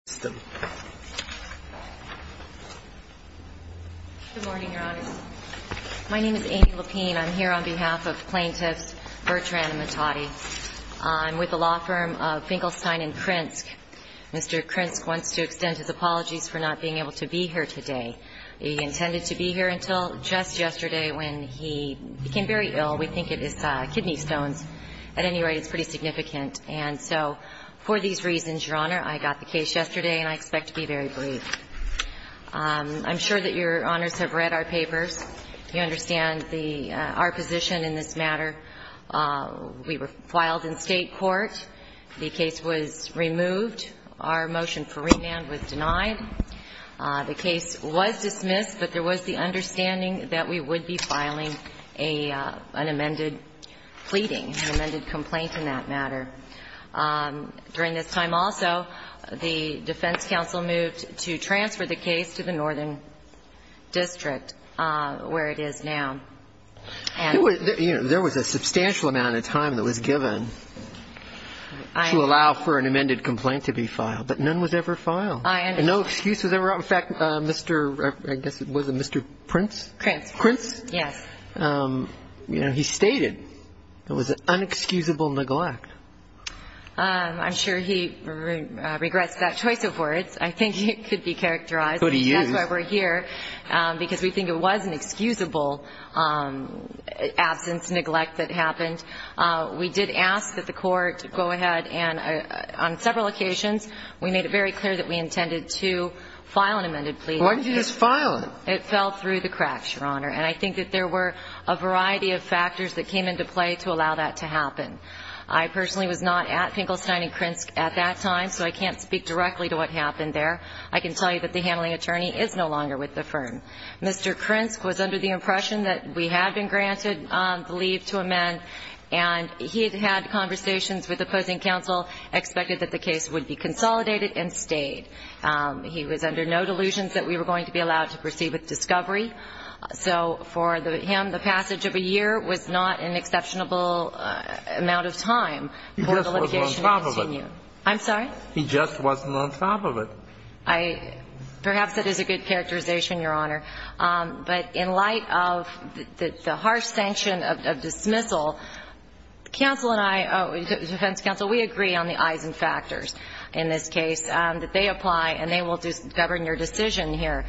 Amy Lapine, Plaintiff's Attorney, Vertran v. Mohtadi, Ltd. Good morning, Your Honor. My name is Amy Lapine. I'm here on behalf of Plaintiffs Vertran and Mohtadi. I'm with the law firm of Finkelstein and Krinsk. Mr. Krinsk wants to extend his apologies for not being able to be here today. He intended to be here until just yesterday when he became very ill. We think it is kidney stones. At any rate, it's pretty significant. And so for these reasons, Your Honor, I got the case yesterday and I expect to be very brief. I'm sure that Your Honors have read our papers. You understand the – our position in this matter. We were filed in State court. The case was removed. Our motion for remand was denied. The case was dismissed, but there was the understanding that we would be filing an amended pleading, an amended complaint in that matter. During this time also, the defense counsel moved to transfer the case to the Northern District, where it is now. There was a substantial amount of time that was given to allow for an amended complaint to be filed, but none was ever filed. I understand. And no excuse was ever out. In fact, Mr. – I guess it was a Mr. Prince? Krinsk. Yes. You know, he stated it was an unexcusable neglect. I'm sure he regrets that choice of words. I think it could be characterized. It could be used. That's why we're here, because we think it was an excusable absence, neglect that happened. We did ask that the court go ahead and on several occasions, we made it very clear that we intended to file an amended pleading. Why did you just file it? It fell through the cracks, Your Honor. And I think that there were a variety of factors that came into play to allow that to happen. I personally was not at Finkelstein and Krinsk at that time, so I can't speak directly to what happened there. I can tell you that the handling attorney is no longer with the firm. Mr. Krinsk was under the impression that we had been granted the leave to amend, and he had had conversations with the opposing counsel, expected that the case would be consolidated, and stayed. He was under no delusions that we were going to be allowed to proceed with discovery. So for him, the passage of a year was not an exceptional amount of time for the litigation to continue. He just wasn't on top of it. I'm sorry? He just wasn't on top of it. I – perhaps that is a good characterization, Your Honor. But in light of the harsh sanction of dismissal, counsel and I – defense counsel, we agree on the eyes and factors in this case, that they apply and they will govern your decision here.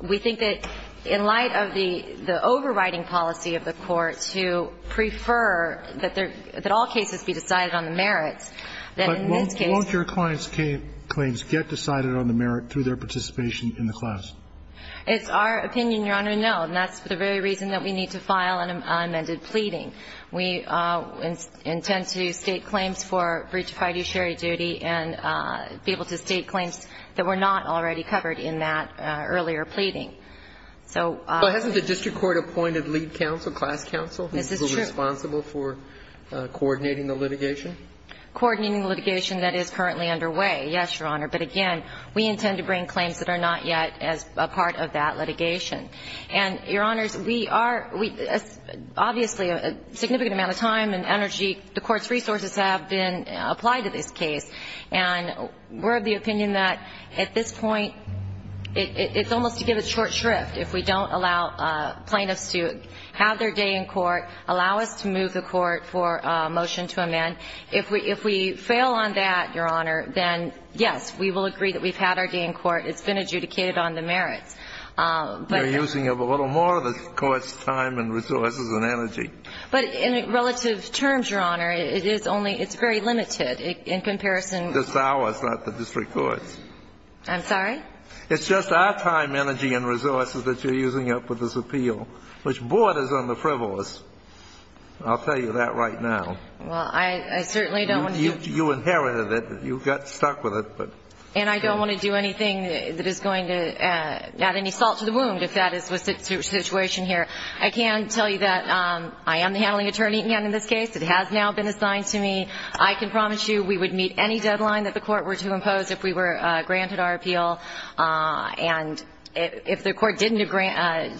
We think that in light of the overriding policy of the Court to prefer that all cases be decided on the merits, that in this case – But won't your client's claims get decided on the merit through their participation in the class? It's our opinion, Your Honor, no. And that's the very reason that we need to file an amended pleading. We intend to state claims for breach of fiduciary duty and be able to state claims that were not already covered in that earlier pleading. So – But hasn't the district court appointed lead counsel, class counsel? Is this true? Who is responsible for coordinating the litigation? Coordinating the litigation that is currently underway, yes, Your Honor. But again, we intend to bring claims that are not yet as a part of that litigation. And, Your Honors, we are – obviously, a significant amount of time and energy, the Court's resources have been applied to this case. And we're of the opinion that at this point it's almost to give a short shrift if we don't allow plaintiffs to have their day in court, allow us to move the court for a motion to amend. If we fail on that, Your Honor, then, yes, we will agree that we've had our day in court. It's been adjudicated on the merits. But – You're using a little more of the Court's time and resources and energy. But in relative terms, Your Honor, it is only – it's very limited in comparison – It's ours, not the district court's. I'm sorry? It's just our time, energy, and resources that you're using up with this appeal, which borders on the frivolous. I'll tell you that right now. Well, I certainly don't want to do – You inherited it. You got stuck with it. And I don't want to do anything that is going to add any salt to the wound, if that is the situation here. I can tell you that I am the handling attorney again in this case. It has now been assigned to me. I can promise you we would meet any deadline that the Court were to impose if we were granted our appeal. And if the Court didn't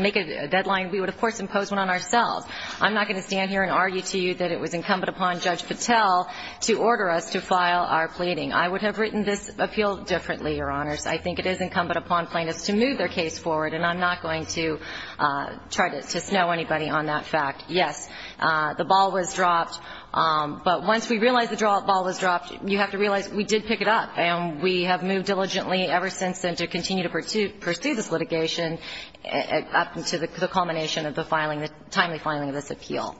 make a deadline, we would, of course, impose one on ourselves. I'm not going to stand here and argue to you that it was incumbent upon Judge Patel to order us to file our pleading. I would have written this appeal differently, Your Honors. I think it is incumbent upon plaintiffs to move their case forward. And I'm not going to try to snow anybody on that fact. Yes, the ball was dropped. But once we realize the ball was dropped, you have to realize we did pick it up. And we have moved diligently ever since then to continue to pursue this litigation up to the culmination of the filing, the timely filing of this appeal.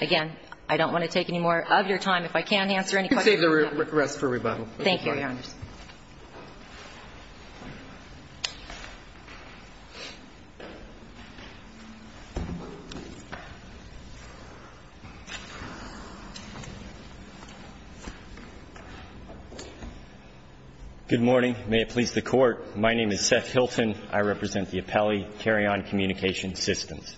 Again, I don't want to take any more of your time. If I can't answer any questions. I'll save the rest for rebuttal. Thank you, Your Honors. Good morning. May it please the Court. My name is Seth Hilton. I represent the appellee, Carry On Communication Systems.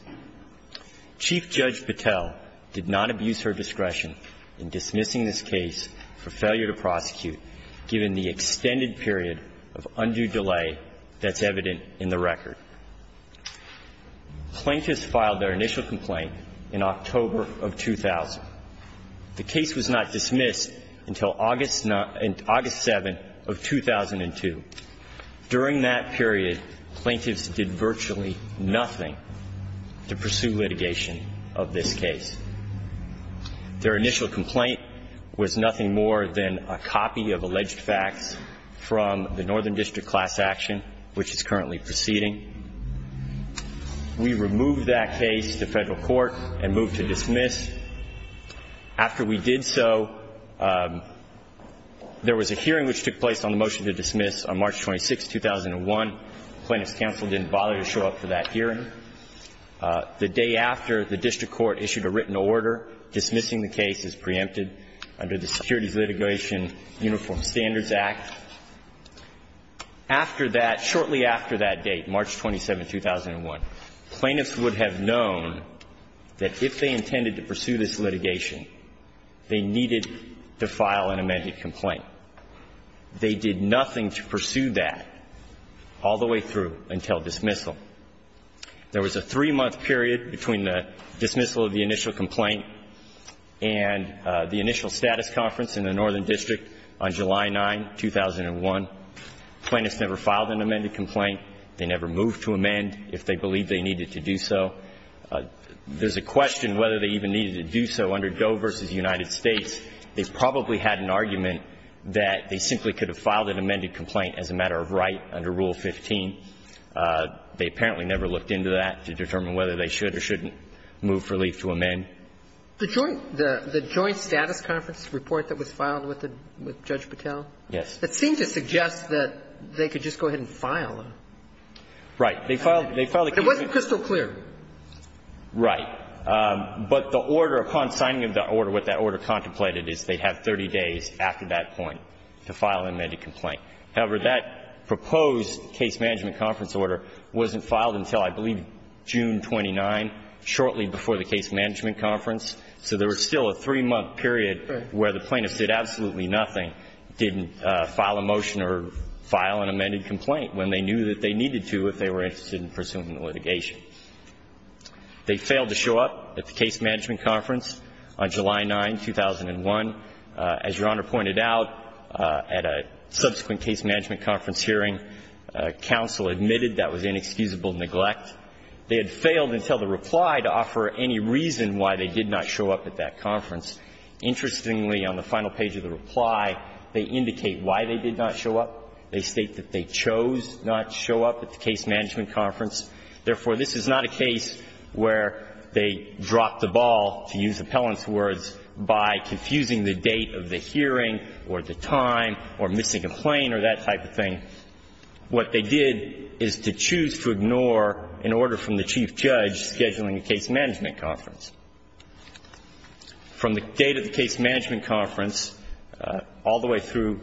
Chief Judge Patel did not abuse her discretion in dismissing this case for failure to prosecute given the extended period of undue delay that's evident in the record. Plaintiffs filed their initial complaint in October of 2000. The case was not dismissed until August 7th of 2002. During that period, plaintiffs did virtually nothing to pursue litigation of this case. Their initial complaint was nothing more than a copy of alleged facts from the Northern District Class Action, which is currently proceeding. We removed that case to federal court and moved to dismiss. After we did so, there was a hearing which took place on the motion to dismiss on March 26th, 2001. Plaintiffs' counsel didn't bother to show up for that hearing. The day after, the district court issued a written order dismissing the case as preempted under the Securities Litigation Uniform Standards Act. After that, shortly after that date, March 27th, 2001, plaintiffs would have known that if they intended to pursue this litigation, they needed to file an amended complaint. They did nothing to pursue that all the way through until dismissal. There was a three-month period between the dismissal of the initial complaint and the initial status conference in the Northern District on July 9, 2001. Plaintiffs never filed an amended complaint. They never moved to amend if they believed they needed to do so. There's a question whether they even needed to do so under Doe v. United States. They probably had an argument that they simply could have filed an amended complaint as a matter of right under Rule 15. They apparently never looked into that to determine whether they should or shouldn't move for leave to amend. The joint status conference report that was filed with Judge Patel? Yes. It seemed to suggest that they could just go ahead and file. Right. They filed the case. It wasn't crystal clear. Right. But the order, upon signing of the order, what that order contemplated is they'd have 30 days after that point to file an amended complaint. However, that proposed case management conference order wasn't filed until I believe June 29, shortly before the case management conference. So there was still a three-month period where the plaintiffs did absolutely nothing, didn't file a motion or file an amended complaint when they knew that they They failed to show up at the case management conference on July 9, 2001. As Your Honor pointed out, at a subsequent case management conference hearing, counsel admitted that was inexcusable neglect. They had failed until the reply to offer any reason why they did not show up at that conference. Interestingly, on the final page of the reply, they indicate why they did not show up. They state that they chose not show up at the case management conference. Therefore, this is not a case where they dropped the ball, to use appellant's words, by confusing the date of the hearing or the time or missing a plane or that type of thing. What they did is to choose to ignore an order from the chief judge scheduling a case management conference. From the date of the case management conference all the way through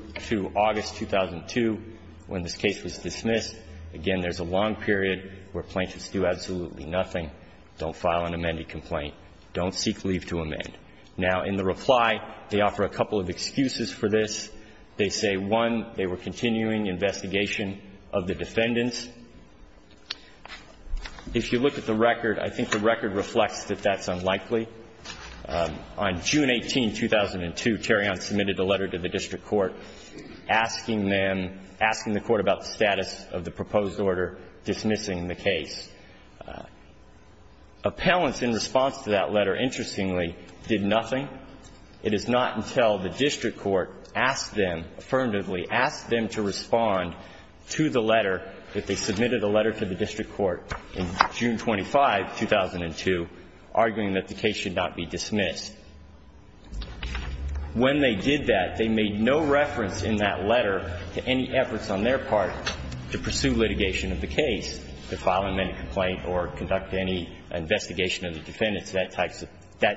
August 2002, when this case was dismissed, again, there's a long period where plaintiffs do absolutely nothing, don't file an amended complaint, don't seek leave to amend. Now, in the reply, they offer a couple of excuses for this. They say, one, they were continuing investigation of the defendants. If you look at the record, I think the record reflects that that's unlikely. On June 18, 2002, Tarion submitted a letter to the district court asking them to dismiss the case, asking the court about the status of the proposed order dismissing the case. Appellants, in response to that letter, interestingly, did nothing. It is not until the district court asked them, affirmatively asked them to respond to the letter that they submitted a letter to the district court in June 25, 2002, arguing that the case should not be dismissed. When they did that, they made no reference in that letter to any efforts on their part to pursue litigation of the case, to file an amended complaint or conduct any investigation of the defendants, that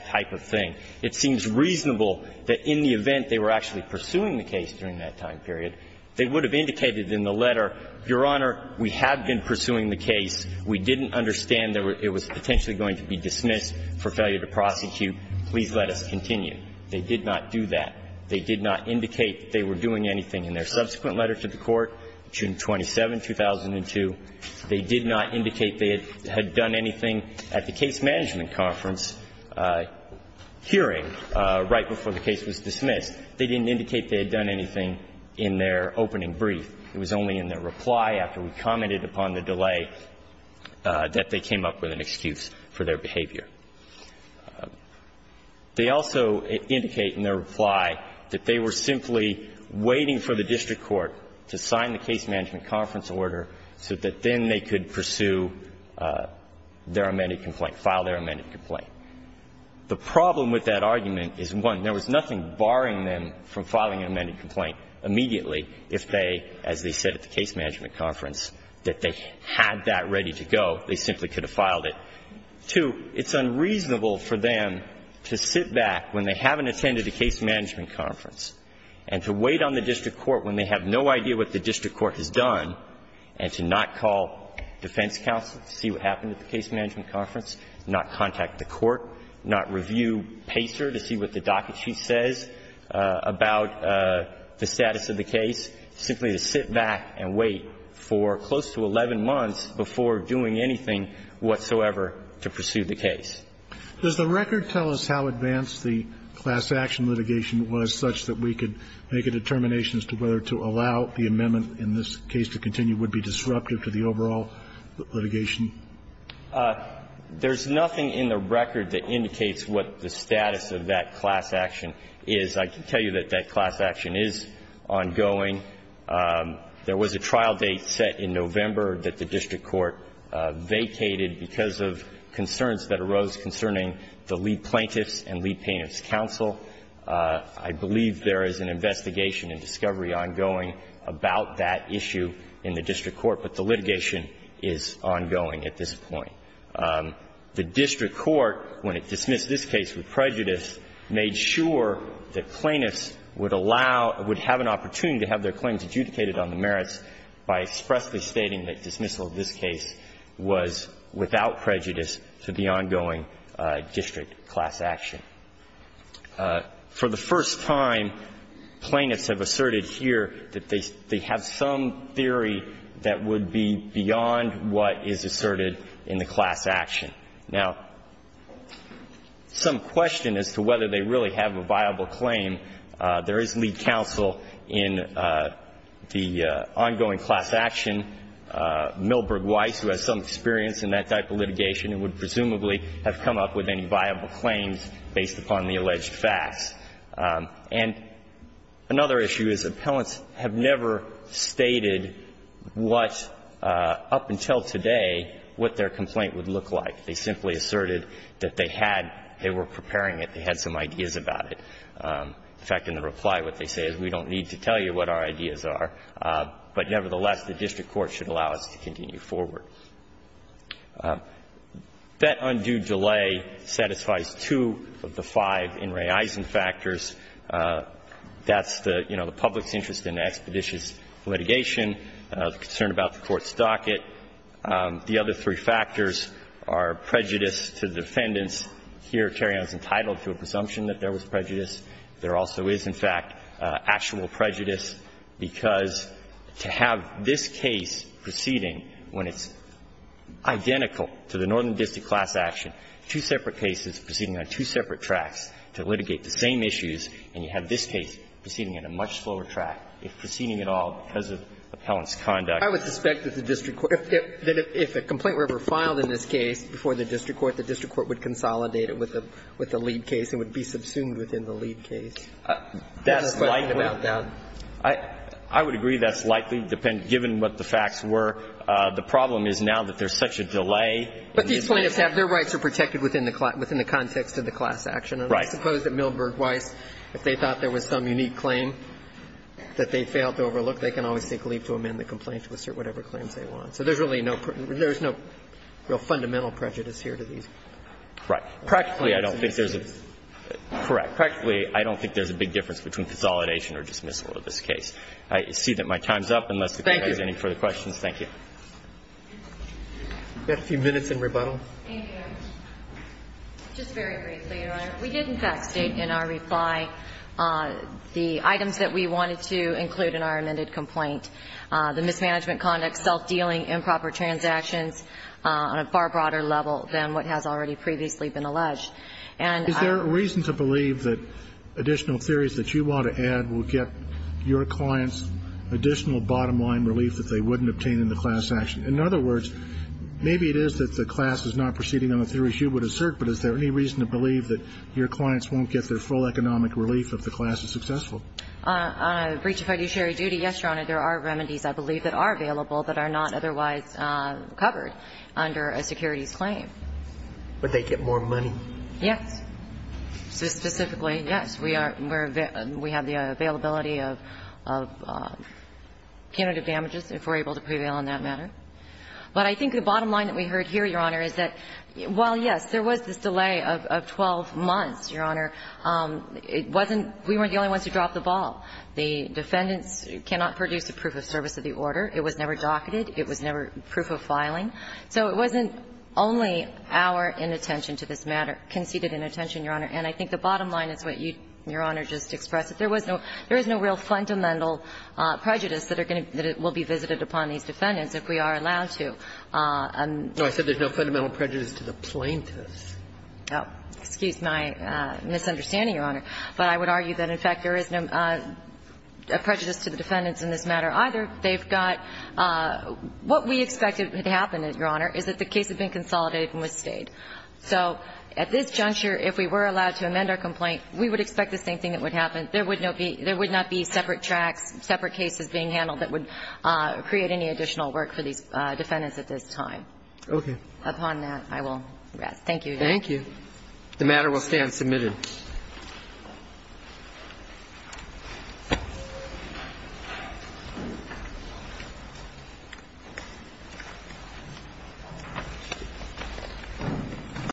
type of thing. It seems reasonable that in the event they were actually pursuing the case during that time period, they would have indicated in the letter, Your Honor, we have been pursuing the case. We didn't understand that it was potentially going to be dismissed for failure to prosecute. Please let us continue. They did not do that. They did not indicate that they were doing anything. In their subsequent letter to the court, June 27, 2002, they did not indicate they had done anything at the case management conference hearing right before the case was dismissed. They didn't indicate they had done anything in their opening brief. It was only in their reply after we commented upon the delay that they came up with an excuse for their behavior. They also indicate in their reply that they were simply waiting for the district court to sign the case management conference order so that then they could pursue their amended complaint, file their amended complaint. The problem with that argument is, one, there was nothing barring them from filing an amended complaint immediately if they, as they said at the case management conference, that they had that ready to go. They simply could have filed it. Two, it's unreasonable for them to sit back when they haven't attended a case management conference and to wait on the district court when they have no idea what the district court has done, and to not call defense counsel to see what happened at the case management conference, not contact the court, not review Pacer to see what the docket chief says about the status of the case. Simply to sit back and wait for close to 11 months before doing anything whatsoever to pursue the case. Does the record tell us how advanced the class action litigation was such that we could make a determination as to whether to allow the amendment in this case to continue would be disruptive to the overall litigation? There's nothing in the record that indicates what the status of that class action is. I can tell you that that class action is ongoing. There was a trial date set in November that the district court vacated because of concerns that arose concerning the lead plaintiffs and lead plaintiffs' counsel. I believe there is an investigation and discovery ongoing about that issue in the district court, but the litigation is ongoing at this point. The district court, when it dismissed this case with prejudice, made sure that plaintiffs would allow or would have an opportunity to have their claims adjudicated on the merits by expressly stating that dismissal of this case was without prejudice to the ongoing district class action. For the first time, plaintiffs have asserted here that they have some theory that would be beyond what is asserted in the class action. Now, some question as to whether they really have a viable claim, there is lead counsel in the ongoing class action, Milberg Weiss, who has some experience in that type of litigation and would presumably have come up with any viable claims based upon the alleged facts. And another issue is appellants have never stated what, up until today, what their complaint would look like. They simply asserted that they had, they were preparing it, they had some ideas about it. In fact, in the reply, what they say is, we don't need to tell you what our ideas are, but nevertheless, the district court should allow us to continue forward. That undue delay satisfies two of the five In re Eisen factors. That's the, you know, the public's interest in expeditious litigation, the concern about the court's docket. The other three factors are prejudice to defendants. Here, Tarion is entitled to a presumption that there was prejudice. There also is, in fact, actual prejudice, because to have this case proceeding when it's identical to the northern district class action, two separate cases proceeding on two separate tracks to litigate the same issues, and you have this case proceeding on a much slower track, if proceeding at all because of appellant's conduct. I would suspect that the district court, that if a complaint were ever filed in this case before the district court, the district court would consolidate it with the lead case and would be subsumed within the lead case. That's likely. I would agree that's likely, given what the facts were. The problem is now that there's such a delay. But these plaintiffs have their rights are protected within the context of the class action. Right. I suppose that Milberg Weiss, if they thought there was some unique claim that they failed to overlook, they can always take leave to amend the complaint to assert whatever claims they want. So there's really no real fundamental prejudice here to these. Right. Practically, I don't think there's a. Correct. Practically, I don't think there's a big difference between consolidation or dismissal of this case. I see that my time's up. Thank you. Unless the Court has any further questions. Thank you. We have a few minutes in rebuttal. Thank you. Just very briefly, Your Honor. We did in fact state in our reply the items that we wanted to include in our amended complaint, the mismanagement conduct, self-dealing, improper transactions on a far broader level than what has already previously been alleged. And I. Is there a reason to believe that additional theories that you want to add will get your clients additional bottom-line relief that they wouldn't obtain in the class action? In other words, maybe it is that the class is not proceeding on the theories you would assert, but is there any reason to believe that your clients won't get their full economic relief if the class is successful? On a breach of fiduciary duty, yes, Your Honor. There are remedies, I believe, that are available that are not otherwise covered under a securities claim. Would they get more money? Yes. Specifically, yes. We have the availability of candidate damages, if we're able to prevail on that matter. But I think the bottom line that we heard here, Your Honor, is that while, yes, there was this delay of 12 months, Your Honor, it wasn't we weren't the only ones who dropped the ball. The defendants cannot produce a proof of service of the order. It was never docketed. It was never proof of filing. So it wasn't only our inattention to this matter, conceded inattention, Your Honor. And I think the bottom line is what you, Your Honor, just expressed. There was no real fundamental prejudice that will be visited upon these defendants if we are allowed to. No, I said there's no fundamental prejudice to the plaintiffs. Oh, excuse my misunderstanding, Your Honor. But I would argue that, in fact, there is no prejudice to the defendants in this matter either. They've got what we expected to happen, Your Honor, is that the case had been consolidated and was stayed. So at this juncture, if we were allowed to amend our complaint, we would expect the same thing that would happen. There would not be separate tracks, separate cases being handled that would create any additional work for these defendants at this time. Okay. Upon that, I will rest. Thank you. Thank you. The matter will stand submitted. Thank you.